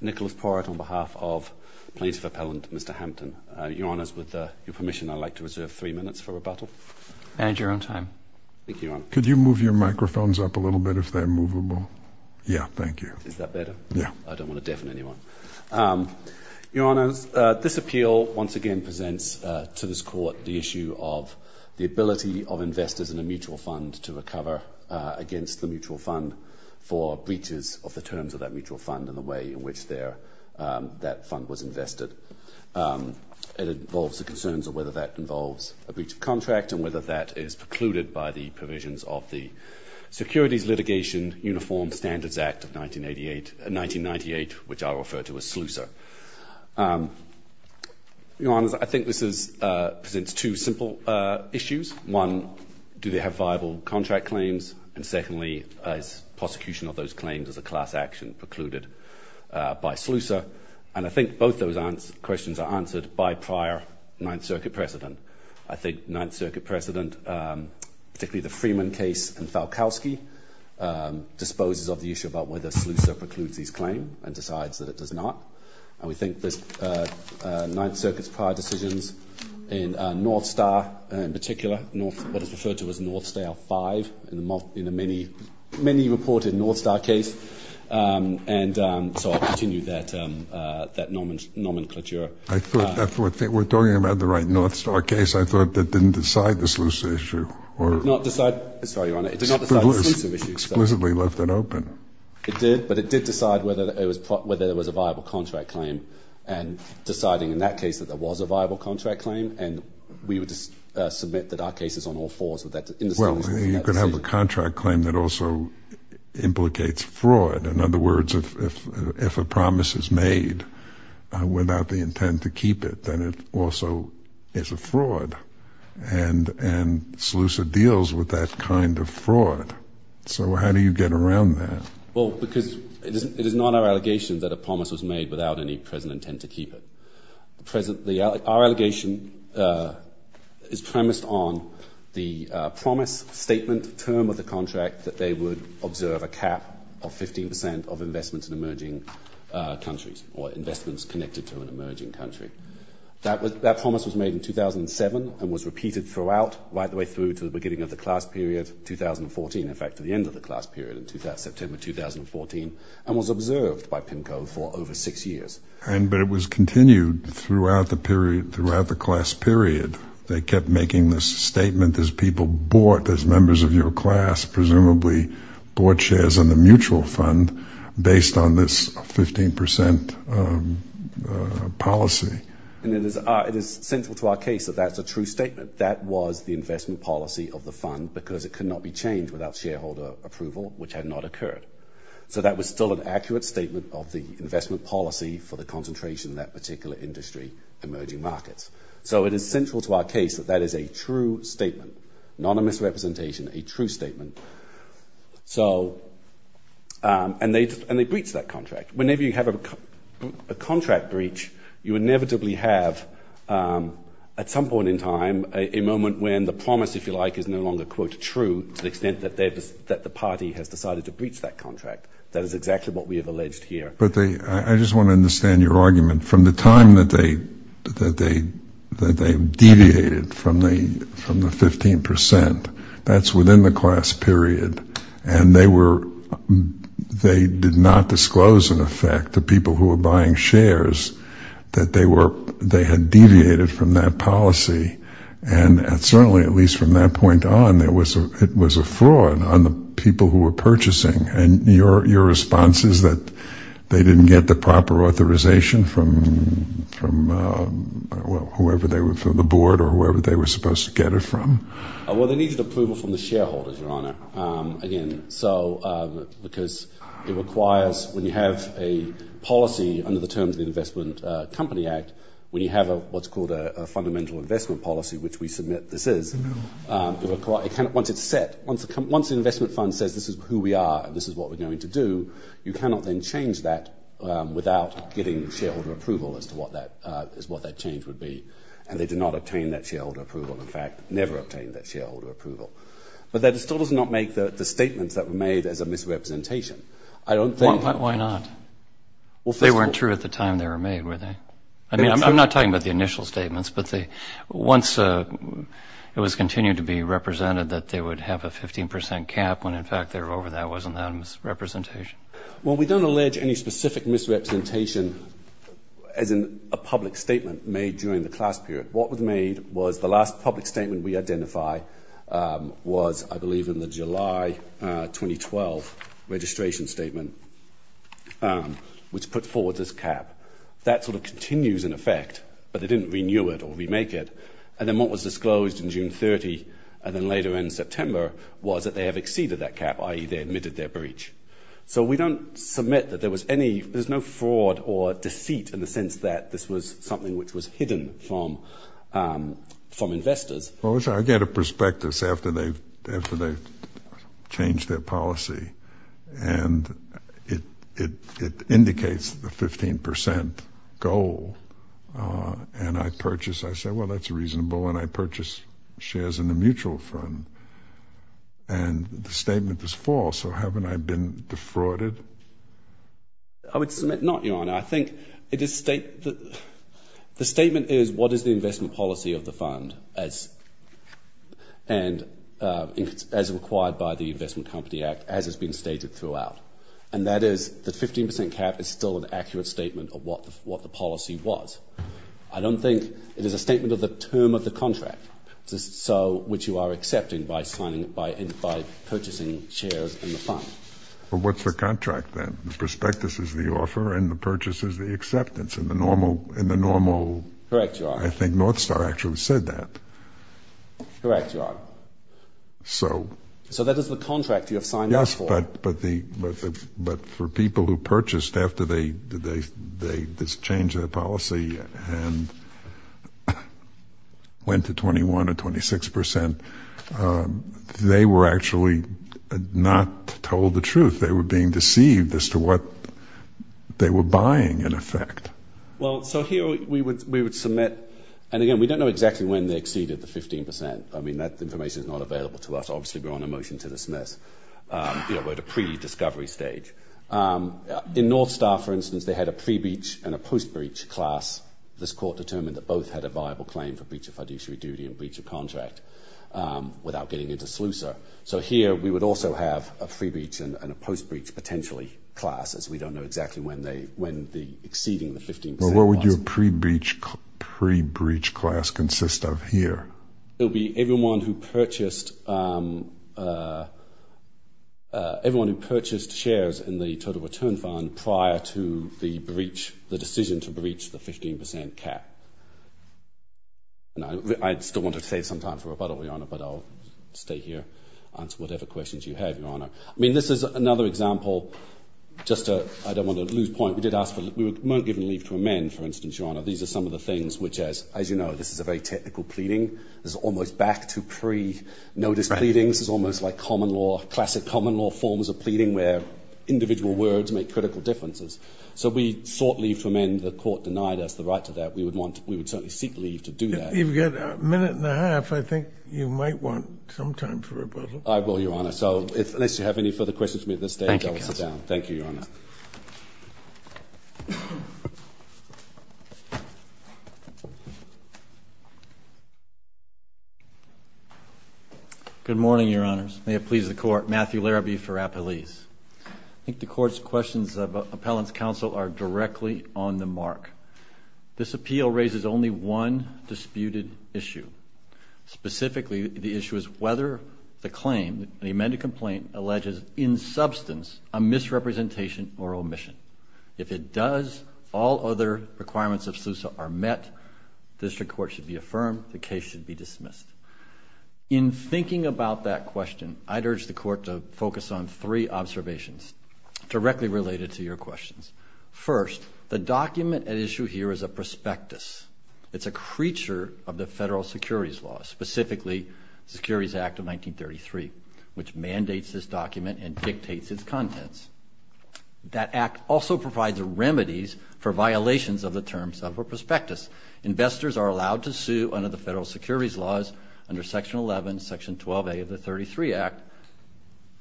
Nicholas Porrit on behalf of Plaintiff Appellant Mr. Hampton. Your Honours with your permission I'd like to reserve three minutes for rebuttal and your own time. Thank you. Could you move your microphones up a little bit if they're movable? Yeah thank you. Is that better? Yeah. I don't want to deafen anyone. Your Honours this appeal once again presents to this court the issue of the ability of investors in a mutual fund to recover against the mutual fund for breaches of the terms of that mutual fund in the way in which there that fund was invested. It involves the concerns of whether that involves a breach of contract and whether that is precluded by the provisions of the Securities Litigation Uniform Standards Act of 1988, 1998 which I refer to as SLUSR. Your Honours, one, do they have viable contract claims and secondly is prosecution of those claims as a class action precluded by SLUSR and I think both those questions are answered by prior Ninth Circuit precedent. I think Ninth Circuit precedent particularly the Freeman case and Falkowski disposes of the issue about whether SLUSR precludes these claim and decides that it does not and we think this Ninth Circuit's prior decisions in North Star in particular what is referred to as North Star 5 in a many many reported North Star case and so I'll continue that that nomenclature. We're talking about the right North Star case I thought that didn't decide the SLUSR issue or not decide, sorry Your Honours, it did not decide the SLUSR issue. Exquisitely left it open. It did but it did decide whether it was whether there was a viable contract claim and deciding in that case that there was a viable contract claim and we would just submit that our case is on all fours with that. Well you could have a contract claim that also implicates fraud in other words if a promise is made without the intent to keep it then it also is a fraud and and SLUSR deals with that kind of fraud so how do you get around that? Well because it is not our allegation that a promise was made without any present intent to keep it. Our allegation is premised on the promise statement term of the contract that they would observe a cap of 15 percent of investments in emerging countries or investments connected to an emerging country. That promise was made in 2007 and was repeated throughout right the way through to the beginning of the class period 2014 in fact to the end of the class period in September 2014 and was observed by PIMCO for over six years. And but it was continued throughout the class period they kept making this statement as people bought as members of your class presumably bought shares in the mutual fund based on this 15 percent policy. And it is it is central to our case that that's a true statement that was the investment policy of the fund because it could not be changed without shareholder approval which had not occurred. So that was still an accurate statement of the investment policy for the concentration that particular industry emerging markets. So it is central to our case that that is a true statement not a misrepresentation a true statement. So and they and they breached that contract. Whenever you have a contract breach you inevitably have at some point in time a moment when the promise if you like is no longer quote true to the extent that they that the party has decided to breach that contract. That is exactly what we have alleged here. But they I just want to understand your argument from the time that they that they that they deviated from the from the 15 percent that's within the class period and they were they did not disclose in effect to people who were buying shares that they were they had deviated from that policy and certainly at least from that point on there was a it was a fraud on the people who were purchasing and your response is that they didn't get the proper authorization from from well whoever they were from the board or whoever they were supposed to get it from? Well they needed approval from the shareholders your honor again so because it requires when you have a policy under the terms of the Investment Company Act when you have a what's called a fundamental investment policy which we submit this is once it's set once it comes once the investment fund says this is who we are this is what we're going to do you cannot then change that without getting shareholder approval as to what that is what that change would be and they did not obtain that shareholder approval in fact never obtained that shareholder approval. But that still does not make the statements that were made as a misrepresentation. I don't think. Why not? They weren't true at the time they were made were they? I mean I'm not talking about the initial statements but they once it was continued to be represented that they would have a 15% cap when in fact they're over that wasn't that misrepresentation? Well we don't allege any specific misrepresentation as in a public statement made during the class period what was made was the last public statement we identify was I believe in the July 2012 registration statement which put forward this cap that sort of continues in effect but they didn't renew it or remake it and then what was disclosed in June 30 and then later in September was that they have exceeded that cap i.e. they admitted their breach. So we don't submit that there was any there's no fraud or deceit in the sense that this was something which was hidden from from investors. Well I get a prospectus after they've after they've changed their policy and it it it indicates the 15% goal and I purchased I said well that's reasonable and I and the statement is false so haven't I been defrauded? I would submit not your honor I think it is state that the statement is what is the investment policy of the fund as and as required by the Investment Company Act as has been stated throughout and that is the 15% cap is still an accurate statement of what what the policy was. I don't think it is a statement of the term of the purchasing shares in the fund. But what's the contract then? The prospectus is the offer and the purchase is the acceptance in the normal in the normal. Correct your honor. I think Northstar actually said that. Correct your honor. So so that is the contract you have signed up for. Yes but but the but for people who purchased after they did they they just changed their policy and went to 21 or 26% they were actually not told the truth they were being deceived as to what they were buying in effect. Well so here we would we would submit and again we don't know exactly when they exceeded the 15% I mean that information is not available to us obviously we're on a motion to dismiss you know we're at a pre-discovery stage. In Northstar for instance they had a pre-breach and a post-breach class this court determined that both had a viable claim for breach of fiduciary duty and breach of contract without getting into Slusa. So here we would also have a pre-breach and a post-breach potentially classes we don't know exactly when they when the exceeding the 15%. What would your pre-breach pre-breach class consist of here? It'll be everyone who purchased everyone who purchased shares in the total return fund prior to the breach the decision to breach the 15% cap. I'd still want to save some time for rebuttal your honor but I'll stay here answer whatever questions you have your honor. I mean this is another example just a I don't want to lose point we did ask for we weren't given leave to amend for instance your honor these are some of the things which as as you know this is a very technical pleading there's almost back to pre-notice pleadings is almost like common law classic common law forms of pleading where individual words make critical differences. So we sought leave to amend the court denied us the right to that we would want we would certainly seek leave to do that. You've got a minute and a half I think you might want some time for rebuttal. I will your honor so if unless you have any further questions for me at this Thank you your honor. Good morning your honors may it please the court Matthew Larrabee for Appalese. I think the court's questions of appellants counsel are directly on the mark. This appeal raises only one disputed issue specifically the issue is whether the claim the amended complaint alleges in substance a misrepresentation or omission. If it does all other requirements of Sousa are met district court should be affirmed the case should be dismissed. In thinking about that question I'd urge the court to focus on three observations directly related to your questions. First the document at issue here is a prospectus it's a Securities Act of 1933 which mandates this document and dictates its contents. That Act also provides remedies for violations of the terms of a prospectus. Investors are allowed to sue under the federal securities laws under section 11 section 12a of the 33 Act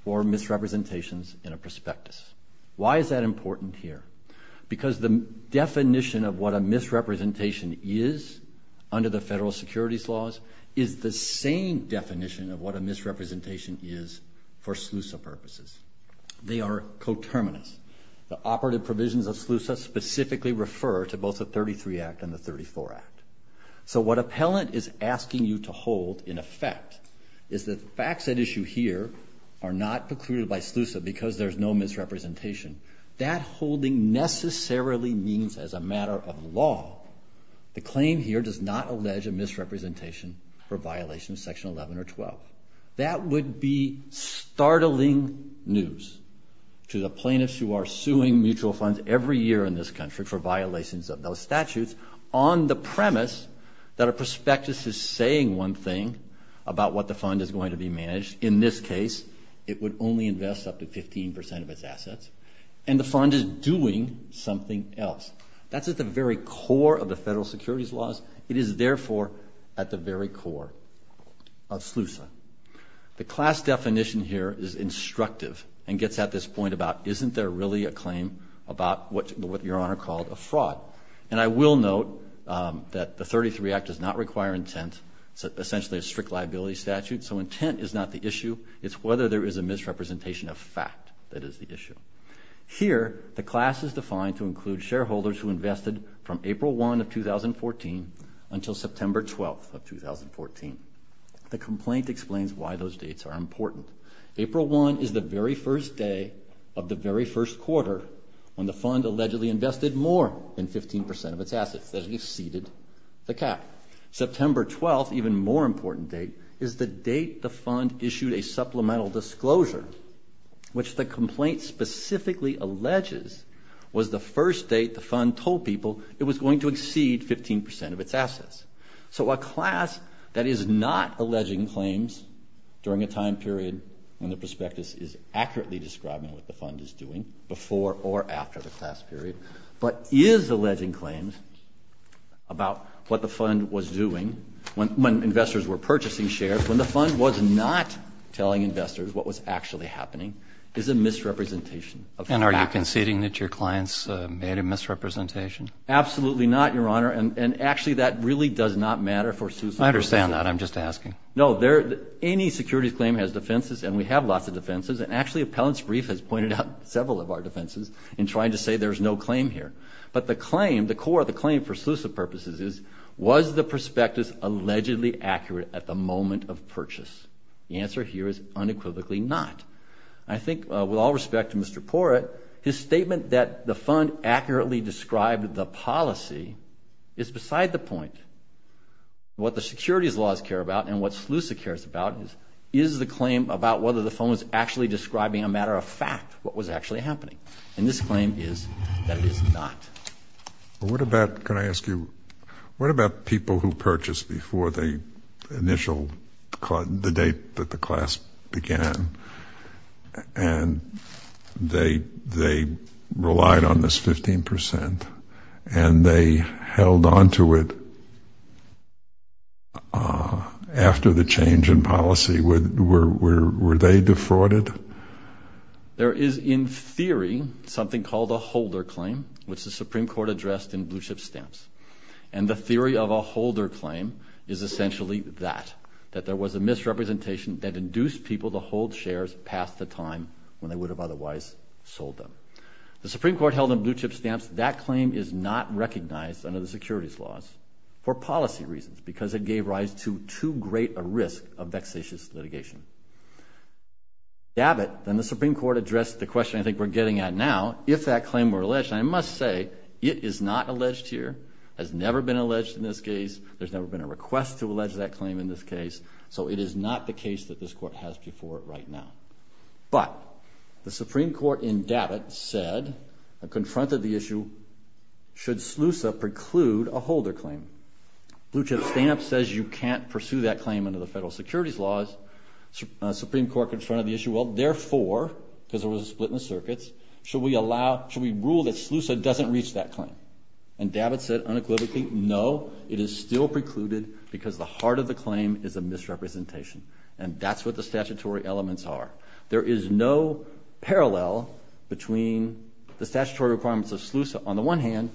for misrepresentations in a prospectus. Why is that important here? Because the definition of what a misrepresentation is under the federal securities laws is the same definition of what a misrepresentation is for Sousa purposes. They are coterminous. The operative provisions of Sousa specifically refer to both the 33 Act and the 34 Act. So what appellant is asking you to hold in effect is the facts at issue here are not precluded by Sousa because there's no misrepresentation. That holding necessarily means as a matter of law the claim here does not allege a misrepresentation for violation of section 11 or 12. That would be startling news to the plaintiffs who are suing mutual funds every year in this country for violations of those statutes on the premise that a prospectus is saying one thing about what the fund is going to be managed. In this case it would only invest up to 15% of its assets and the fund is doing something else. That's at the very core of the federal securities laws. It is therefore at the very core of Sousa. The class definition here is instructive and gets at this point about isn't there really a claim about what your honor called a fraud. And I will note that the 33 Act does not require intent. It's essentially a strict liability statute. So intent is not the issue. It's whether there is a misrepresentation of fact that is the issue. Here the class is defined to include shareholders who invested from April 1 of 2014 until September 12 of 2014. The complaint explains why those dates are important. April 1 is the very first day of the very first quarter when the fund allegedly invested more than 15% of its assets. That exceeded the cap. September 12, even more important date, is the date the fund issued a supplemental disclosure, which the complaint specifically alleges was the first date the fund told people it was going to exceed 15% of its assets. So a class that is not alleging claims during a time period when the prospectus is accurately describing what the fund is doing before or after the class period, but is alleging claims about what the fund was telling investors what was actually happening, is a misrepresentation of fact. And are you conceding that your clients made a misrepresentation? Absolutely not, your honor. And actually that really does not matter for SUSA. I understand that. I'm just asking. No, any securities claim has defenses and we have lots of defenses. And actually Appellant's brief has pointed out several of our defenses in trying to say there's no claim here. But the claim, the core of the claim for SUSA purposes is, was the prospectus allegedly accurate at the moment of purchase? The answer here is unequivocally not. I think with all respect to Mr. Porat, his statement that the fund accurately described the policy is beside the point. What the securities laws care about and what SUSA cares about is, is the claim about whether the fund was actually describing a matter of fact what was actually happening. And this claim is that it is not. What about, can I ask you, what about people who purchased before the initial, the date that the class began and they, they relied on this 15% and they held onto it after the change in policy? Were, were, were they defrauded? There is in theory something called a holder claim, which the Supreme Court addressed in blue chip stamps. And the theory of a holder claim is essentially that, that there was a misrepresentation that induced people to hold shares past the time when they would have otherwise sold them. The Supreme Court held in blue chip stamps that claim is not recognized under the securities laws for policy reasons because it gave rise to too great a risk of vexatious litigation. DABIT, then the Supreme Court addressed the question I think we're getting at now, if that claim were alleged, and I must say it is not alleged here, has never been alleged in this case. There's never been a request to allege that claim in this case. So it is not the case that this court has before it right now. But the Supreme Court in DABIT said, confronted the issue, should SLUSA preclude a holder claim? Blue chip stamp says you can't pursue that claim under the federal securities laws. Supreme Court confronted the issue, well therefore, because there was a split in the circuits, should we allow, should we rule that SLUSA doesn't reach that claim? And DABIT said unequivocally, no, it is still precluded because the heart of the claim is a misrepresentation. And that's what the statutory elements are. There is no parallel between the statutory requirements of SLUSA on the one hand,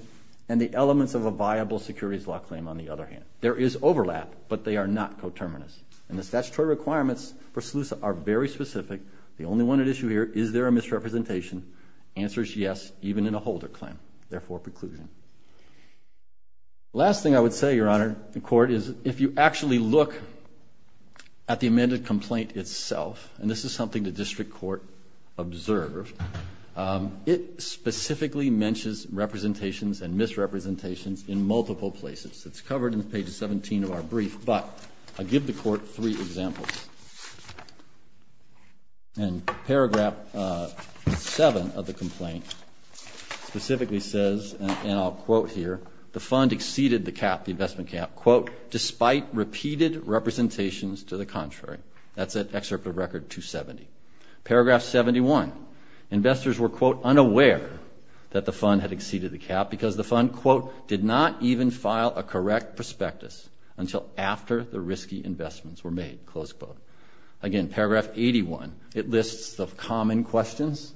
and the elements of a viable securities law claim on the other hand. There is overlap, but they are not coterminous. And the statutory requirements for SLUSA are very specific. The only one at issue here, is there a misrepresentation? Answer is yes, even in a holder claim. Therefore, preclusion. Last thing I would say, Your Honor, the court is, if you actually look at the amended complaint itself, and this is something the district court observed, it specifically mentions representations and misrepresentations in multiple places. It's covered in page 17 of our brief, but I'll give the court three examples. And paragraph 7 of the complaint specifically says, and I'll quote here, the fund exceeded the cap, the investment cap, quote, despite repeated representations to the contrary. That's at excerpt of record 270. Paragraph 71, investors were, quote, unaware that the fund, quote, did not even file a correct prospectus until after the risky investments were made, close quote. Again, paragraph 81, it lists the common questions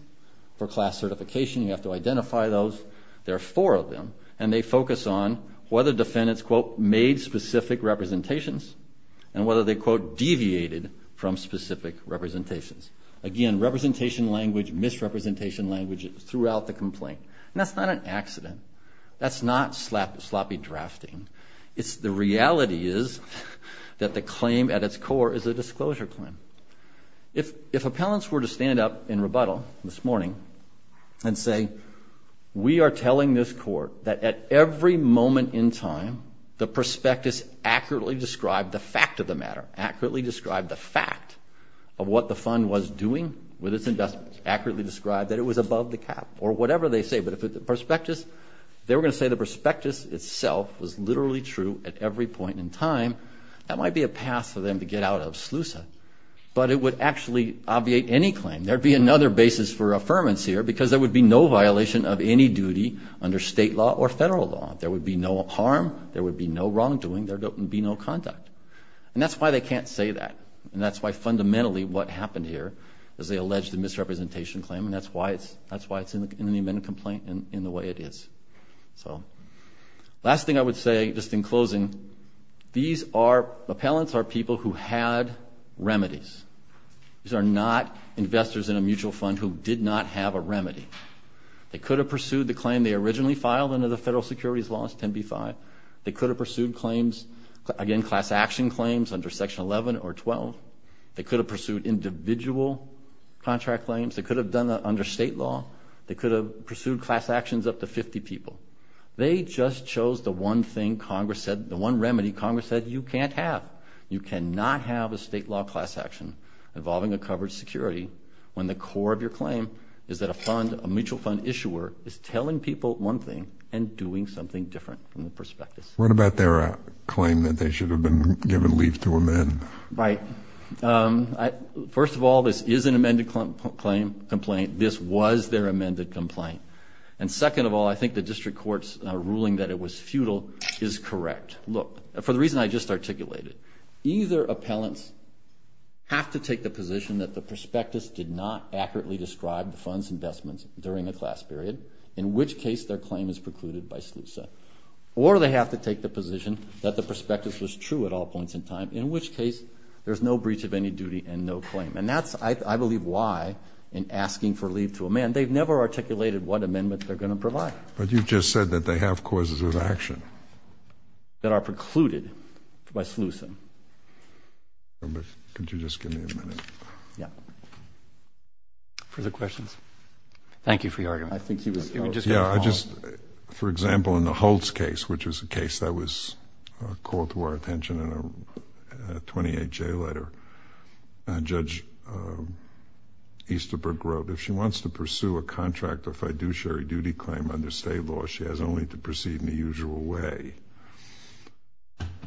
for class certification. You have to identify those. There are four of them, and they focus on whether defendants, quote, made specific representations, and whether they, quote, deviated from specific representations. Again, representation language, misrepresentation language throughout the case. That's not sloppy drafting. The reality is that the claim at its core is a disclosure claim. If appellants were to stand up in rebuttal this morning and say, we are telling this court that at every moment in time, the prospectus accurately described the fact of the matter, accurately described the fact of what the fund was doing with its investments, accurately described that it was above the cap, or whatever they say. But if the prospectus, they were going to say the prospectus itself was literally true at every point in time, that might be a path for them to get out of SLUSA. But it would actually obviate any claim. There would be another basis for affirmance here, because there would be no violation of any duty under state law or federal law. There would be no harm, there would be no wrongdoing, there would be no conduct. And that's why they can't say that. And that's why fundamentally what happened here is they didn't. That's why it's in the amendment complaint in the way it is. Last thing I would say, just in closing, these are, appellants are people who had remedies. These are not investors in a mutual fund who did not have a remedy. They could have pursued the claim they originally filed under the federal securities laws, 10b-5. They could have pursued claims, again, class action claims under section 11 or 12. They could have pursued individual contract claims. They could have done that under state law. They could have pursued class actions up to 50 people. They just chose the one thing Congress said, the one remedy Congress said, you can't have. You cannot have a state law class action involving a covered security when the core of your claim is that a fund, a mutual fund issuer, is telling people one thing and doing something different from the prospectus. Right. First of all, this is an amended complaint. This was their amended complaint. And second of all, I think the district court's ruling that it was futile is correct. Look, for the reason I just articulated, either appellants have to take the position that the prospectus did not accurately describe the fund's investments during the class period, in which case their claim is precluded by SLUSA, or they have to take the position that the prospectus was true at all points in time, in which case there's no breach of any duty and no claim. And that's, I believe, why in asking for leave to a man, they've never articulated what amendment they're going to provide. But you just said that they have causes of action. That are precluded by SLUSA. Could you just give me a minute? Yeah. Further questions? Thank you for your argument. I think he was... Yeah, I just, for example, in the Holtz case, which was a case that was called to our attention in a 28-J letter, Judge Easterbrook wrote, if she wants to pursue a contract or fiduciary duty claim under state law, she has only to proceed in the usual way.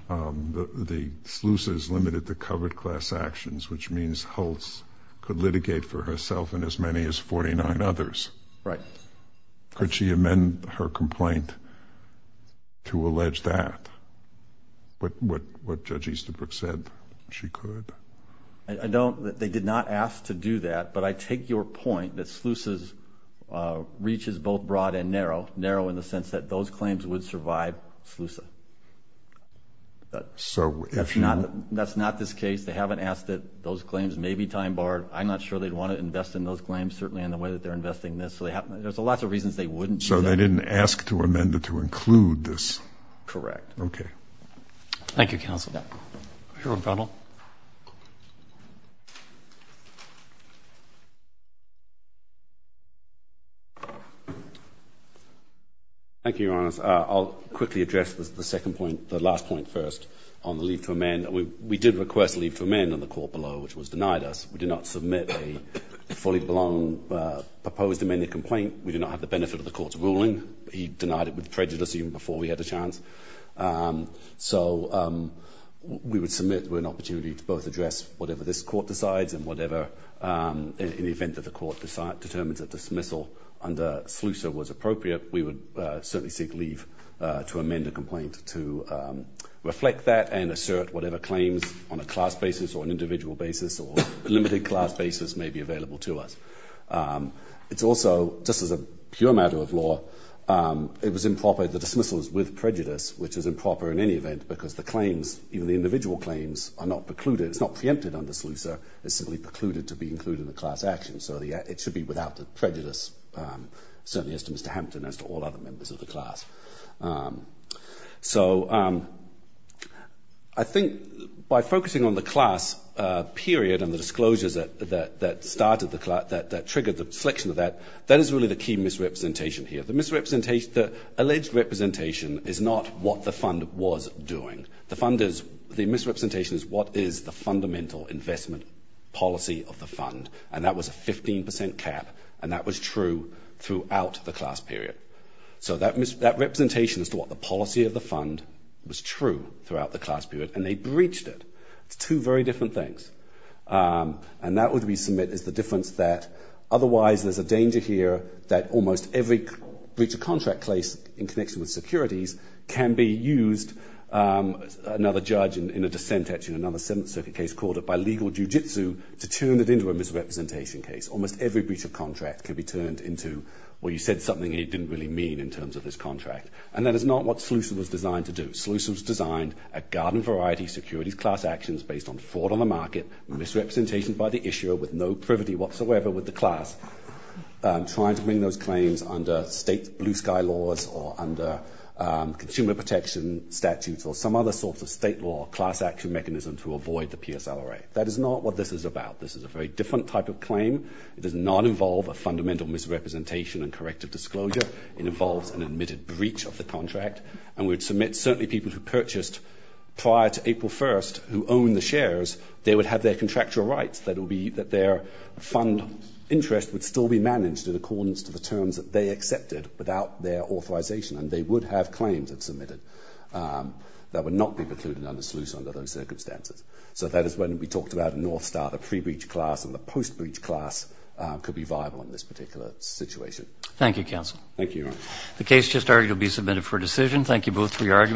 The SLUSA is limited to covered class actions, which means Holtz could litigate for herself and as many as 49 others. Right. Could she amend her complaint to allege that? What Judge Easterbrook said, she could. They did not ask to do that, but I take your point that SLUSA's reach is both broad and narrow. Narrow in the sense that those claims would survive SLUSA. So if you... That's not this case. They haven't asked it. Those claims may be time-barred. I'm not sure they'd want to invest in those claims, certainly in the way that they're investing this. There's lots of reasons they wouldn't. So they didn't ask to amend it to include this? Correct. Okay. Thank you, counsel. Your Honor. Thank you, Your Honor. I'll quickly address the second point, the last point first, on the leave to amend. We did request leave to amend in the court below, which was denied us. We did not submit a fully blown proposed amended complaint. We did not have the benefit of the court's ruling. He denied it with prejudice even before we had a chance. So we would submit with an opportunity to both address whatever this court decides and whatever, in the event that the court determines a dismissal under SLUSA was appropriate, we would certainly seek leave to amend a complaint to reflect that and assert whatever claims on a class basis or an individual basis or a limited class basis may be available to us. It's also, just as a pure matter of law, it was improper, the dismissal is with prejudice, which is improper in any event because the claims, even the individual claims, are not precluded. It's not preempted under SLUSA. It's simply precluded to be included in the class action. So it should be without the prejudice, certainly as to Mr. Hampton, as to all I think by focusing on the class period and the disclosures that triggered the selection of that, that is really the key misrepresentation here. The alleged representation is not what the fund was doing. The misrepresentation is what is the fundamental investment policy of the fund, and that was a 15% cap, and that was true throughout the class period. So that representation as to what the policy of the fund was true throughout the class period, and they breached it. It's two very different things. And that would we submit is the difference that otherwise there's a danger here that almost every breach of contract case in connection with securities can be used, another judge in a dissent actually in another Seventh Circuit case called it by legal jujitsu, to turn it into a misrepresentation case. Almost every breach of contract can be turned into, well, you said something you didn't really mean in terms of this contract. And that is not what SLUSA was designed to do. SLUSA was designed a garden variety securities class actions based on fraud on the market, misrepresentation by the issuer with no privity whatsoever with the class, trying to bring those claims under state blue sky laws or under consumer protection statutes or some other sorts of state law class action mechanism to avoid the PSLRA. That is not what this is about. This is a very different type of claim. It does not involve a fundamental misrepresentation and corrective disclosure. It involves an admitted breach of the contract. And we would submit certainly people who purchased prior to April 1st who owned the shares, they would have their contractual rights. That would be that their fund interest would still be managed in accordance to the terms that they accepted without their authorization. And they would have claims that submitted that would not be precluded under SLUSA under those circumstances. So that is when we talked about Northstar, the pre-breach class and the post-breach class could be viable in this particular situation. Thank you, counsel. Thank you. The case just argued will be submitted for decision. Thank you both for your arguments.